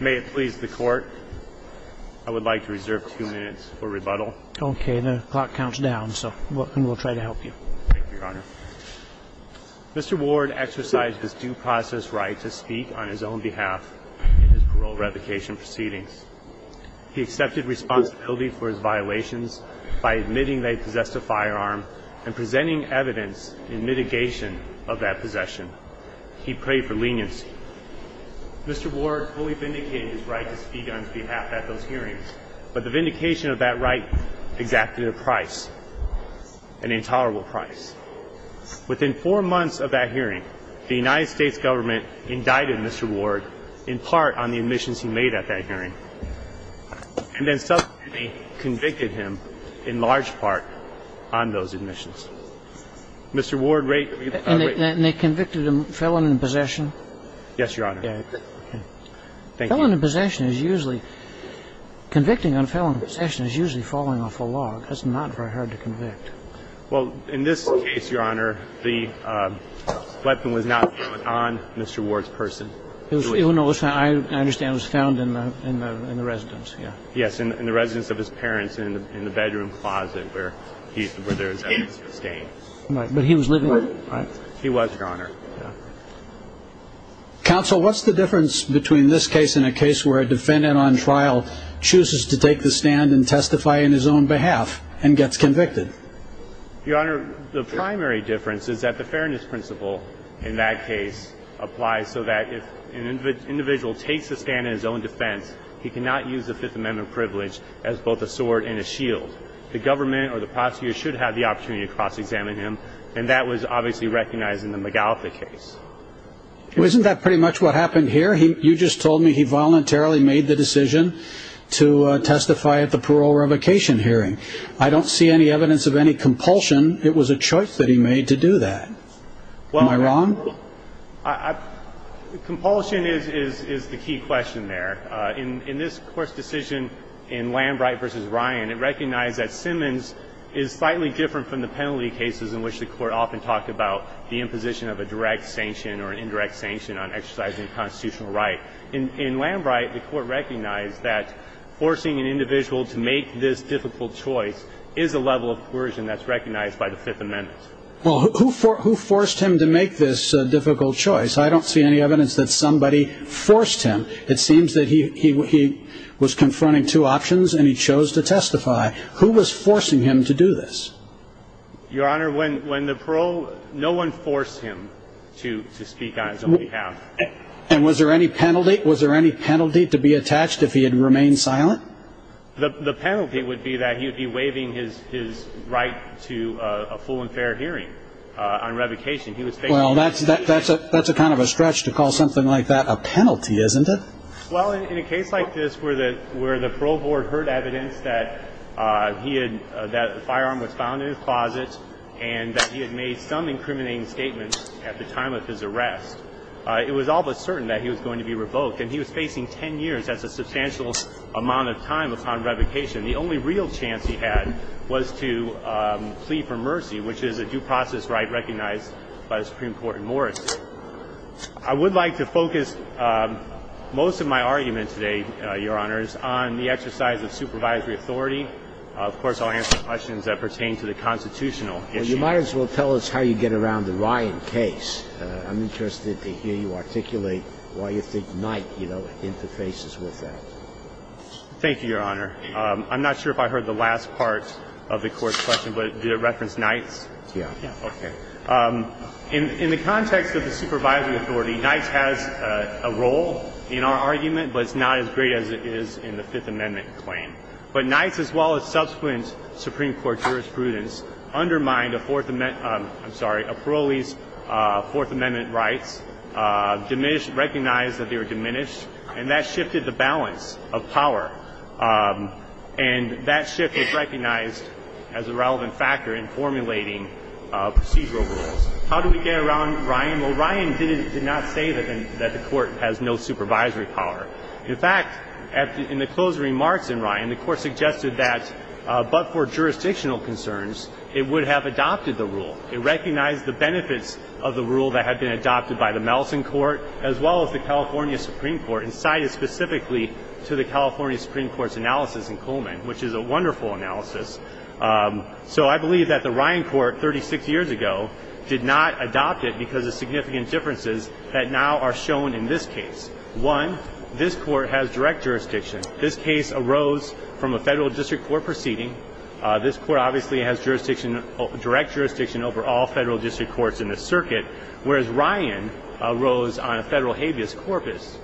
May it please the Court, I would like to reserve two minutes for rebuttal. Okay, the clock counts down, so we'll try to help you. Thank you, Your Honor. Mr. Ward exercised his due process right to speak on his own behalf in his parole revocation proceedings. He accepted responsibility for his violations by admitting they possessed a firearm and presenting evidence in mitigation of that possession. He prayed for leniency. Mr. Ward fully vindicated his right to speak on his behalf at those hearings, but the vindication of that right exacted a price, an intolerable price. Within four months of that hearing, the United States government indicted Mr. Ward in part on the admissions he made at that hearing and then subsequently convicted him in large part on those admissions. Mr. Ward, rate your time. And they convicted him felon in possession? Yes, Your Honor. Okay. Thank you. Felon in possession is usually – convicting on felon in possession is usually falling off a log. That's not very hard to convict. Well, in this case, Your Honor, the weapon was not found on Mr. Ward's person. I understand it was found in the residence, yeah. Yes, in the residence of his parents in the bedroom closet where they were staying. But he was living with them, right? He was, Your Honor. Counsel, what's the difference between this case and a case where a defendant on trial chooses to take the stand and testify on his own behalf and gets convicted? Your Honor, the primary difference is that the fairness principle in that case applies so that if an individual takes the stand in his own defense, he cannot use the Fifth Amendment privilege as both a sword and a shield. The government or the prosecutor should have the opportunity to cross-examine him, and that was obviously recognized in the McAuliffe case. Well, isn't that pretty much what happened here? You just told me he voluntarily made the decision to testify at the parole revocation hearing. I don't see any evidence of any compulsion. It was a choice that he made to do that. Am I wrong? Compulsion is the key question there. In this Court's decision in Lambright v. Ryan, it recognized that Simmons is slightly different from the penalty cases in which the Court often talked about the imposition of a direct sanction or an indirect sanction on exercising a constitutional right. In Lambright, the Court recognized that forcing an individual to make this difficult choice is a level of coercion that's recognized by the Fifth Amendment. Well, who forced him to make this difficult choice? I don't see any evidence that somebody forced him. It seems that he was confronting two options and he chose to testify. Who was forcing him to do this? Your Honor, when the parole, no one forced him to speak on his own behalf. And was there any penalty to be attached if he had remained silent? The penalty would be that he would be waiving his right to a full and fair hearing on revocation. Well, that's a kind of a stretch to call something like that a penalty, isn't it? Well, in a case like this where the parole board heard evidence that he had, that a firearm was found in his closet and that he had made some incriminating statements at the time of his arrest, it was all but certain that he was going to be revoked. And he was facing 10 years. That's a substantial amount of time upon revocation. The only real chance he had was to plead for mercy, which is a due process right recognized by the Supreme Court in Morrissey. I would like to focus most of my argument today, Your Honors, on the exercise of supervisory authority. Of course, I'll answer questions that pertain to the constitutional issue. Well, you might as well tell us how you get around the Ryan case. I'm interested to hear you articulate why you think Knight, you know, interfaces with that. Thank you, Your Honor. I'm not sure if I heard the last part of the Court's question, but did it reference Knight's? Yes. Okay. In the context of the supervisory authority, Knight's has a role in our argument, but it's not as great as it is in the Fifth Amendment claim. But Knight's, as well as subsequent Supreme Court jurisprudence, undermined a parolee's Fourth Amendment rights, recognized that they were diminished, and that shifted the balance of power. And that shift is recognized as a relevant factor in formulating procedural rules. How do we get around Ryan? Well, Ryan did not say that the Court has no supervisory power. In fact, in the closed remarks in Ryan, the Court suggested that, but for jurisdictional concerns, it would have adopted the rule. It recognized the benefits of the rule that had been adopted by the Melson Court, as well as the California Supreme Court, and cited specifically to the California Supreme Court's analysis in Coleman, which is a wonderful analysis. So I believe that the Ryan Court, 36 years ago, did not adopt it because of significant differences that now are shown in this case. One, this Court has direct jurisdiction. This case arose from a federal district court proceeding. This Court obviously has jurisdiction, direct jurisdiction, over all federal district courts in the circuit, whereas Ryan arose on a federal habeas corpus.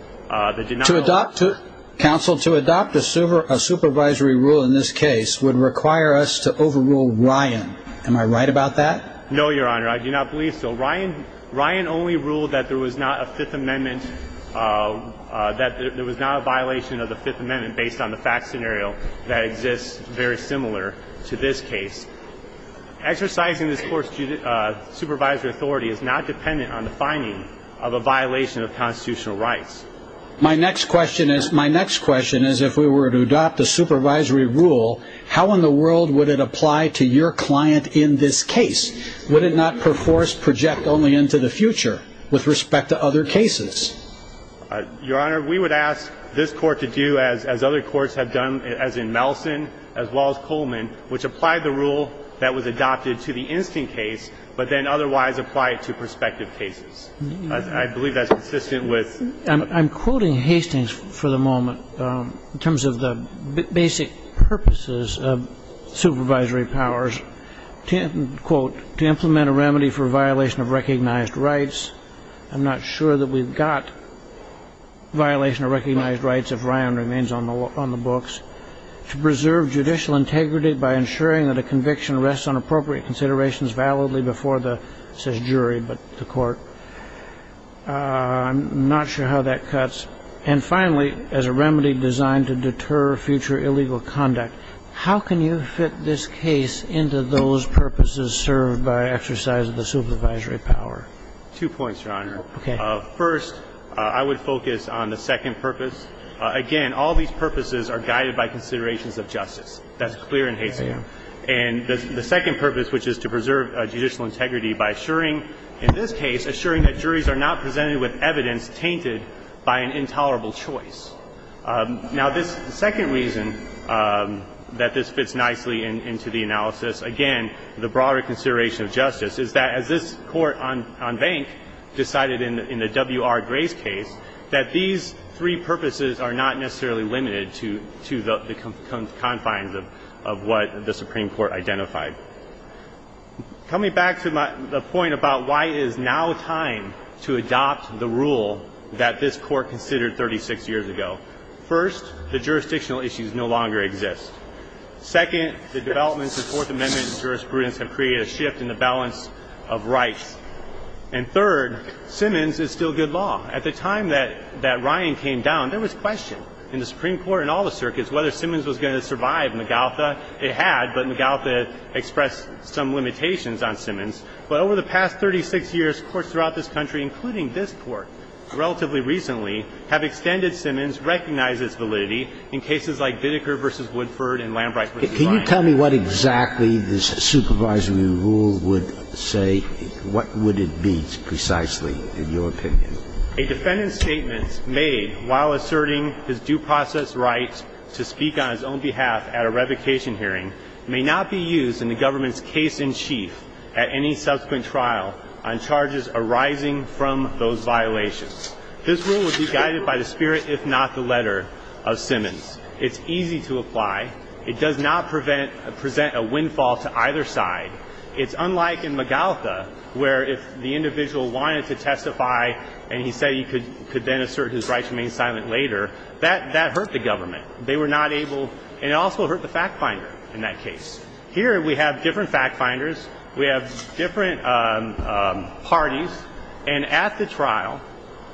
Counsel, to adopt a supervisory rule in this case would require us to overrule Ryan. Am I right about that? No, Your Honor. I do not believe so. Ryan only ruled that there was not a violation of the Fifth Amendment based on the fact scenario that exists very similar to this case. Exercising this Court's supervisory authority is not dependent on the finding of a violation of constitutional rights. My next question is, if we were to adopt a supervisory rule, how in the world would it apply to your client in this case? Would it not, per force, project only into the future with respect to other cases? Your Honor, we would ask this Court to do, as other courts have done, as in Melson, as well as Coleman, which applied the rule that was adopted to the instant case, but then otherwise apply it to prospective cases. I believe that's consistent with ---- I'm quoting Hastings for the moment in terms of the basic purposes of supervisory powers, quote, to implement a remedy for violation of recognized rights. I'm not sure that we've got violation of recognized rights if Ryan remains on the books. To preserve judicial integrity by ensuring that a conviction rests on appropriate considerations validly before the, it says jury, but the court. I'm not sure how that cuts. And finally, as a remedy designed to deter future illegal conduct. How can you fit this case into those purposes served by exercise of the supervisory power? Two points, Your Honor. Okay. First, I would focus on the second purpose. Again, all these purposes are guided by considerations of justice. That's clear in Hastings. And the second purpose, which is to preserve judicial integrity by assuring, in this case, assuring that juries are not presented with evidence tainted by an intolerable choice. Now, this second reason that this fits nicely into the analysis, again, the broader consideration of justice, is that as this court on bank decided in the W.R. Grace case that these three purposes are not necessarily limited to the confines of what the Supreme Court identified. Coming back to the point about why it is now time to adopt the rule that this court considered 36 years ago. First, the jurisdictional issues no longer exist. Second, the developments in Fourth Amendment jurisprudence have created a shift in the balance of rights. And third, Simmons is still good law. At the time that Ryan came down, there was question in the Supreme Court and all the circuits whether Simmons was going to survive Magaltha. It had, but Magaltha expressed some limitations on Simmons. But over the past 36 years, courts throughout this country, including this court, relatively recently, have extended Simmons, recognized its validity in cases like Biddeker v. Woodford and Lambright v. Ryan. Can you tell me what exactly this supervisory rule would say? What would it be precisely, in your opinion? A defendant's statements made while asserting his due process right to speak on his own behalf at a revocation hearing may not be used in the government's case in chief at any subsequent trial on charges arising from those violations. This rule would be guided by the spirit, if not the letter, of Simmons. It's easy to apply. It does not present a windfall to either side. It's unlike in Magaltha, where if the individual wanted to testify and he said he could then assert his right to remain silent later, that hurt the government. They were not able, and it also hurt the fact finder in that case. Here we have different fact finders. We have different parties. And at the trial,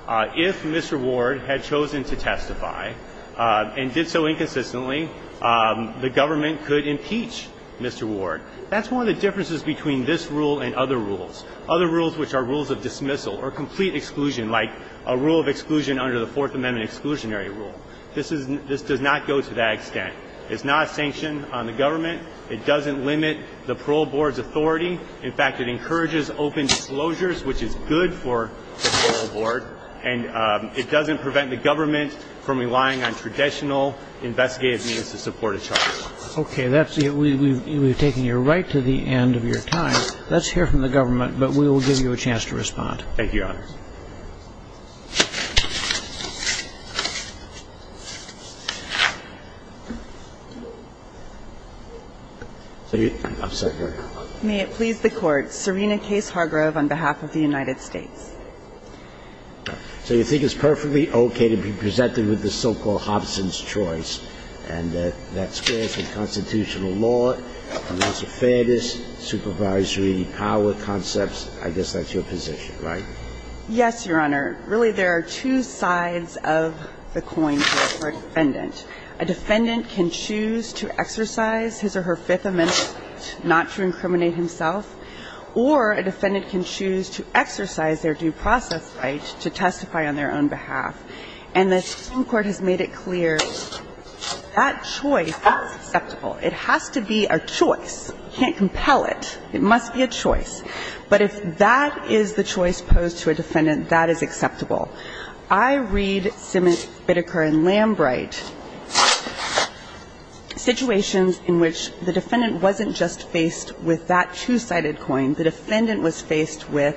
if Mr. Ward had chosen to testify and did so inconsistently, the government could impeach Mr. Ward. That's one of the differences between this rule and other rules, other rules which are rules of dismissal or complete exclusion, like a rule of exclusion under the Fourth Amendment exclusionary rule. This does not go to that extent. It's not a sanction on the government. It doesn't limit the parole board's authority. In fact, it encourages open disclosures, which is good for the parole board. And it doesn't prevent the government from relying on traditional investigative means to support a charge. Okay. We've taken you right to the end of your time. Let's hear from the government, but we will give you a chance to respond. Thank you, Your Honor. I'm sorry. May it please the Court. Serena Case Hargrove on behalf of the United States. So you think it's perfectly okay to be presented with the so-called Hobson's choice, and that spares the constitutional law, amounts of fairness, supervisory power concepts. I guess that's your position, right? Yes, Your Honor. Really, there are two sides of the coin here for a defendant. A defendant can choose to exercise his or her Fifth Amendment right not to incriminate himself, or a defendant can choose to exercise their due process right to testify on their own behalf. And the Supreme Court has made it clear that choice is acceptable. It has to be a choice. You can't compel it. It must be a choice. But if that is the choice posed to a defendant, that is acceptable. I read Simmons, Bitteker, and Lambright situations in which the defendant wasn't just faced with that two-sided coin. The defendant was faced with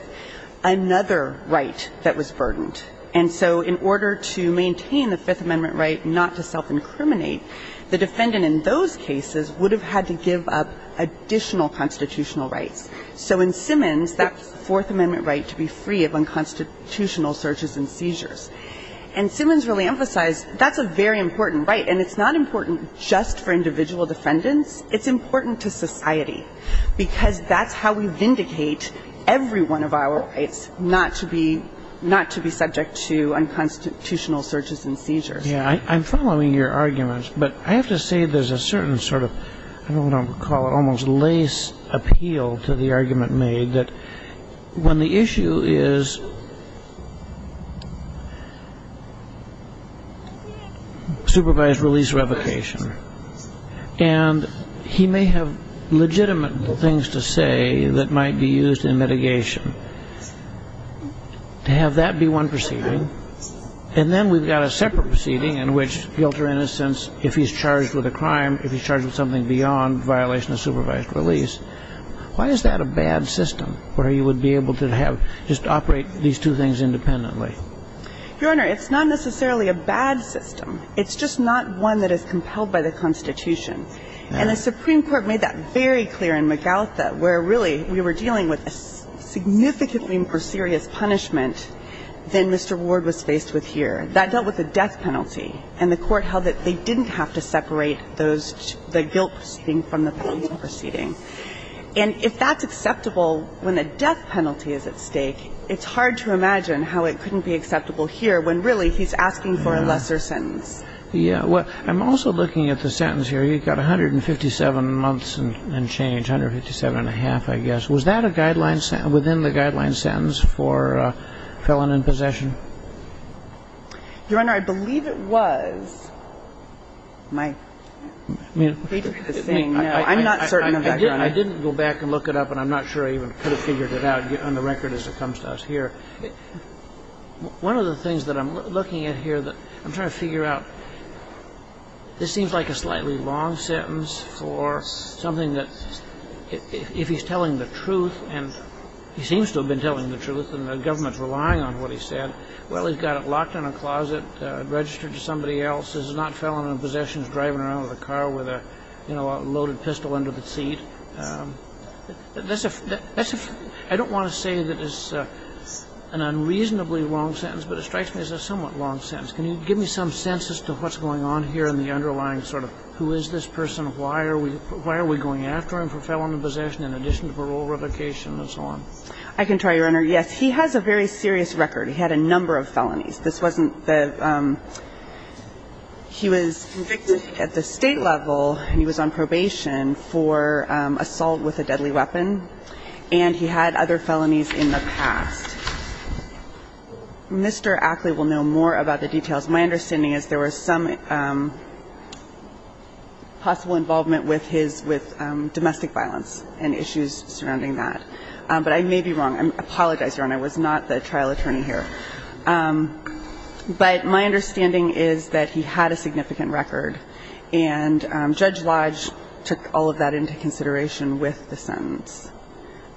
another right that was burdened. And so in order to maintain the Fifth Amendment right not to self-incriminate, the defendant in those cases would have had to give up additional constitutional rights. So in Simmons, that Fourth Amendment right to be free of unconstitutional searches and seizures. And Simmons really emphasized that's a very important right, and it's not important just for individual defendants. It's important to society, because that's how we vindicate every one of our rights, not to be subject to unconstitutional searches and seizures. Yes. I'm following your arguments, but I have to say there's a certain sort of, I don't know, parallel to the argument made that when the issue is supervised release revocation, and he may have legitimate things to say that might be used in mitigation, to have that be one proceeding, and then we've got a separate proceeding in which guilt or innocence, if he's charged with a crime, if he's charged with something beyond violation of supervised release, why is that a bad system where he would be able to have, just operate these two things independently? Your Honor, it's not necessarily a bad system. It's just not one that is compelled by the Constitution. And the Supreme Court made that very clear in Magaltha, where really we were dealing with a significantly more serious punishment than Mr. Ward was faced with here. That dealt with the death penalty, and the Court held that they didn't have to separate those, the guilt from the penalty proceeding. And if that's acceptable when the death penalty is at stake, it's hard to imagine how it couldn't be acceptable here when really he's asking for a lesser sentence. Yeah. Well, I'm also looking at the sentence here. You've got 157 months and change, 157 and a half, I guess. Was that a guideline, within the guideline sentence for felon in possession? Your Honor, I believe it was. My hatred of saying no. I'm not certain of that. I didn't go back and look it up, and I'm not sure I even could have figured it out on the record as it comes to us here. One of the things that I'm looking at here that I'm trying to figure out, this seems like a slightly long sentence for something that if he's telling the truth, and he says, well, he's got it locked in a closet, registered to somebody else, this is not felon in possession, he's driving around with a car with a loaded pistol under the seat. I don't want to say that it's an unreasonably long sentence, but it strikes me as a somewhat long sentence. Can you give me some sense as to what's going on here in the underlying sort of who is this person, why are we going after him for felon in possession in addition to parole revocation and so on? I can try, Your Honor. Yes, he has a very serious record. He had a number of felonies. This wasn't the – he was convicted at the State level, and he was on probation for assault with a deadly weapon, and he had other felonies in the past. Mr. Ackley will know more about the details. My understanding is there was some possible involvement with his – with domestic violence and issues surrounding that. But I may be wrong. I apologize, Your Honor. I was not the trial attorney here. But my understanding is that he had a significant record, and Judge Lodge took all of that into consideration with the sentence.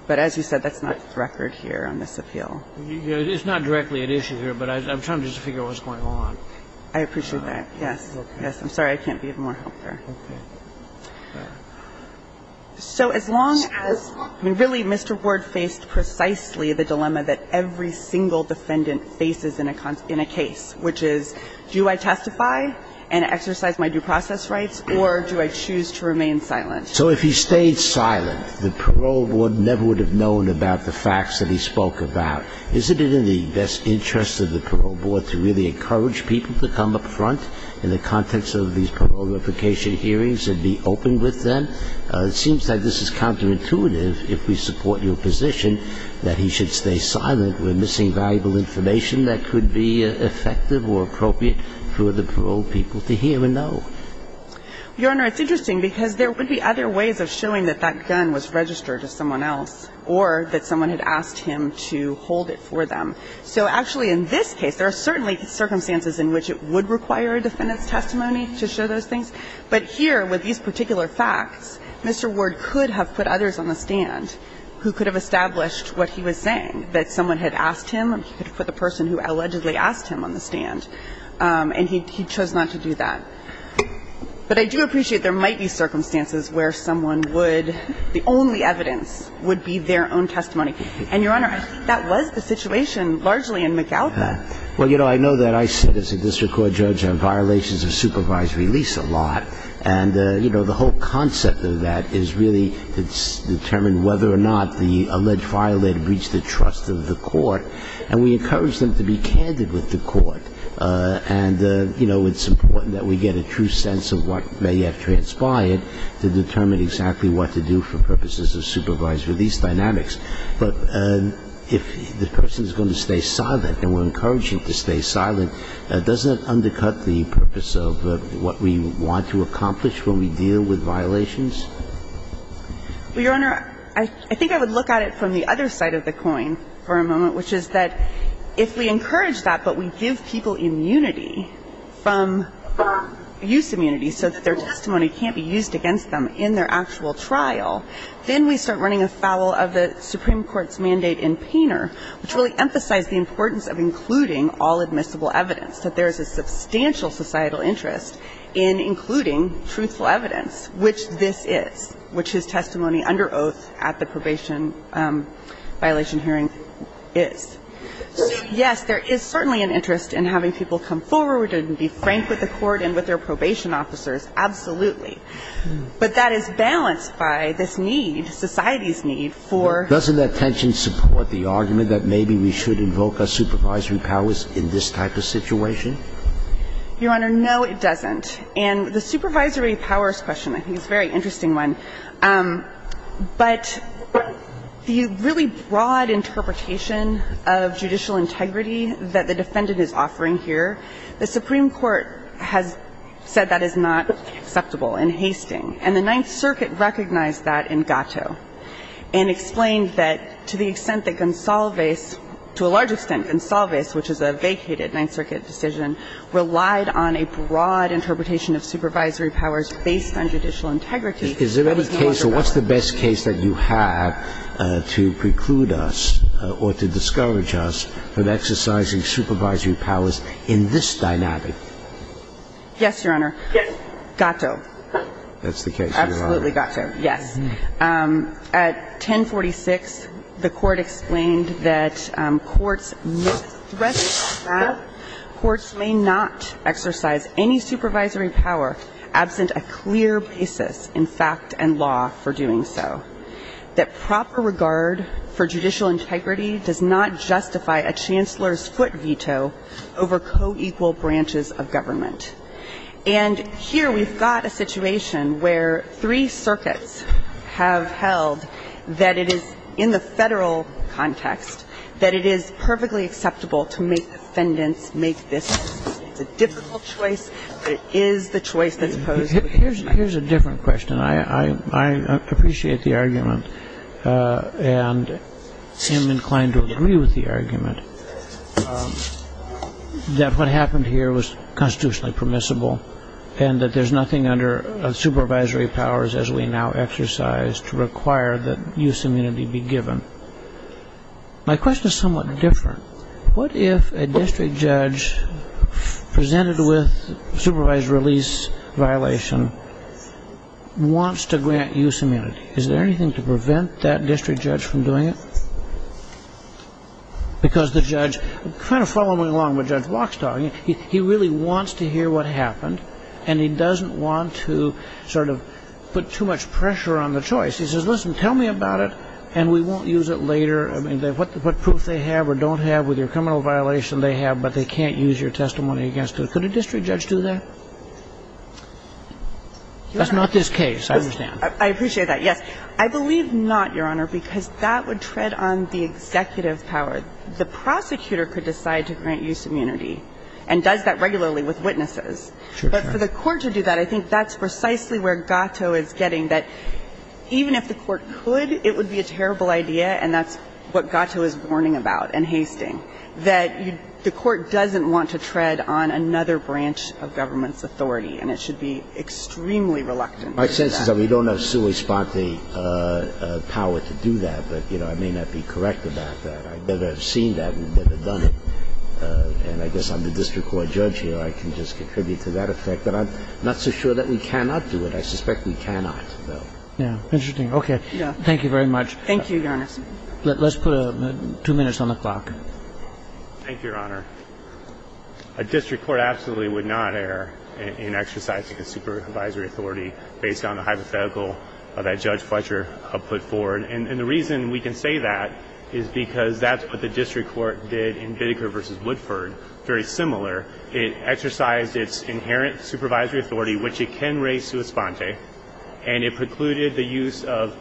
But as you said, that's not the record here on this appeal. It's not directly at issue here, but I'm trying to just figure out what's going on. I appreciate that. Yes. I'm sorry I can't be of more help there. Okay. So as long as – I mean, really, Mr. Ward faced precisely the dilemma that every single defendant faces in a case, which is do I testify and exercise my due process rights, or do I choose to remain silent? So if he stayed silent, the parole board never would have known about the facts that he spoke about. Isn't it in the best interest of the parole board to really encourage people to come up front in the context of these parole replication hearings and be open with them? It seems like this is counterintuitive if we support your position that he should stay silent. We're missing valuable information that could be effective or appropriate for the parole people to hear and know. Your Honor, it's interesting because there would be other ways of showing that that gun was registered to someone else or that someone had asked him to hold it for them. So actually, in this case, there are certainly circumstances in which it would require a defendant's testimony to show those things. But here, with these particular facts, Mr. Ward could have put others on the stand who could have established what he was saying, that someone had asked him. He could have put the person who allegedly asked him on the stand, and he chose not to do that. But I do appreciate there might be circumstances where someone would – the only evidence would be their own testimony. And, Your Honor, I think that was the situation largely in McAuliffe. Well, you know, I know that I sit as a district court judge on violations of supervised release a lot. And, you know, the whole concept of that is really to determine whether or not the alleged violator breached the trust of the court. And we encourage them to be candid with the court. And, you know, it's important that we get a true sense of what may have transpired to determine exactly what to do for purposes of supervised release dynamics. But if the person is going to stay silent, and we're encouraging them to stay silent, doesn't that undercut the purpose of what we want to accomplish when we deal with violations? Well, Your Honor, I think I would look at it from the other side of the coin for a moment, which is that if we encourage that but we give people immunity from – use immunity so that their testimony can't be used against them in their actual trial, then we start running afoul of the Supreme Court's mandate in Painter, which really emphasized the importance of including all admissible evidence, that there is a substantial societal interest in including truthful evidence, which this is, which his testimony under oath at the probation violation hearing is. So, yes, there is certainly an interest in having people come forward and be frank with the court and with their probation officers, absolutely. But that is balanced by this need, society's need for – Doesn't that tension support the argument that maybe we should invoke our supervisory powers in this type of situation? Your Honor, no, it doesn't. And the supervisory powers question, I think, is a very interesting one. The Supreme Court has said that is not acceptable in Hastings. And the Ninth Circuit recognized that in Gatto and explained that to the extent that Gonsalves – to a large extent, Gonsalves, which is a vacated Ninth Circuit decision, relied on a broad interpretation of supervisory powers based on judicial integrity. Is there any case – or what's the best case that you have to preclude us or to discourage us from exercising supervisory powers in this dynamic? Yes, Your Honor. Yes. Gatto. That's the case, Your Honor. Absolutely Gatto, yes. At 1046, the Court explained that courts may not exercise any supervisory power absent a clear basis in fact and law for doing so, that proper regard for judicial integrity is a matter of the court's discretion. And the court's discretion is to justify a chancellor's foot veto over co-equal branches of government. And here we've got a situation where three circuits have held that it is in the federal context that it is perfectly acceptable to make defendants make this decision. It's a difficult choice, but it is the choice that's posed. Here's a different question. I appreciate the argument and am inclined to agree with the argument that what happened here was constitutionally permissible and that there's nothing under supervisory powers as we now exercise to require that use immunity be given. My question is somewhat different. What if a district judge presented with supervised release violation wants to grant use immunity? Is there anything to prevent that district judge from doing it? Because the judge, kind of following along what Judge Locke's talking, he really wants to hear what happened and he doesn't want to sort of put too much pressure on the choice. He says, listen, tell me about it and we won't use it later. I mean, what proof they have or don't have with your criminal violation they have, but they can't use your testimony against them. Could a district judge do that? That's not this case, I understand. I appreciate that, yes. I believe not, Your Honor, because that would tread on the executive power. The prosecutor could decide to grant use immunity and does that regularly with witnesses. But for the court to do that, I think that's precisely where Gatto is getting, that even if the court could, it would be a terrible idea, and that's what Gatto is warning about in Hastings, that the court doesn't want to tread on another branch of government's authority. And it should be extremely reluctant to do that. My sense is that we don't have sui sponte power to do that, but, you know, I may not be correct about that. I've never seen that. We've never done it. And I guess I'm the district court judge here. I can just contribute to that effect. But I'm not so sure that we cannot do it. I suspect we cannot, though. Yeah. Interesting. Okay. Thank you very much. Thank you, Your Honor. Let's put two minutes on the clock. Thank you, Your Honor. A district court absolutely would not err in exercising a supervisory authority based on the hypothetical that Judge Fletcher put forward. And the reason we can say that is because that's what the district court did in Bideker v. Woodford, very similar. It exercised its inherent supervisory authority, which it can raise sui sponte. And it precluded the use of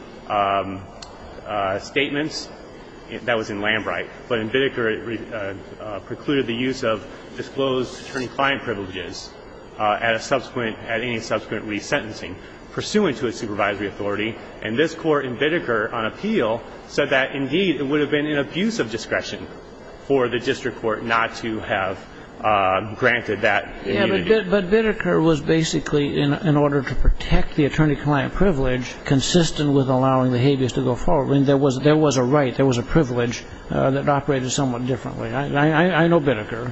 statements. That was in Lambright. But in Bideker, it precluded the use of disclosed attorney-client privileges at any subsequent resentencing pursuant to a supervisory authority. And this Court in Bideker on appeal said that, indeed, it would have been an abuse of discretion for the district court not to have granted that immunity. Yeah, but Bideker was basically, in order to protect the attorney-client privilege, consistent with allowing the habeas to go forward. I mean, there was a right, there was a privilege that operated somewhat differently. I know Bideker.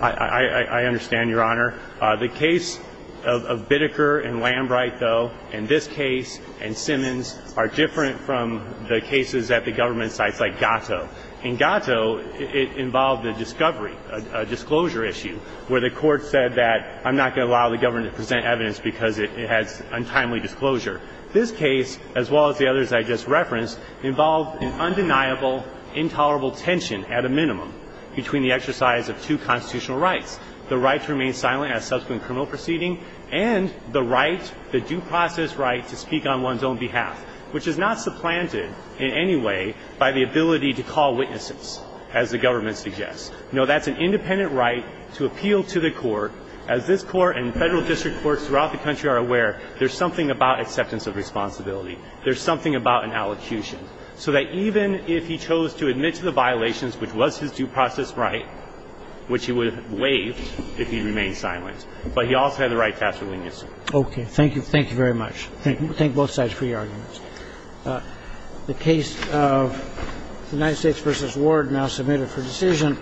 I understand, Your Honor. The case of Bideker and Lambright, though, and this case and Simmons are different from the cases at the government sites like Gato. In Gato, it involved a discovery, a disclosure issue, where the court said that I'm not going to allow the government to present evidence because it has untimely disclosure. This case, as well as the others I just referenced, involved an undeniable, intolerable tension at a minimum between the exercise of two constitutional rights, the right to remain silent at a subsequent criminal proceeding and the right, the due process right, to speak on one's own behalf, which is not supplanted in any way by the ability to call witnesses, as the government suggests. No, that's an independent right to appeal to the court. As this Court and Federal district courts throughout the country are aware, there's something about acceptance of responsibility. There's something about an allocution. So that even if he chose to admit to the violations, which was his due process right, which he would have waived if he remained silent, but he also had the right to ask for leniency. Okay. Thank you. Thank you very much. Thank you. Thank both sides for your arguments. The case of United States v. Ward now submitted for decision.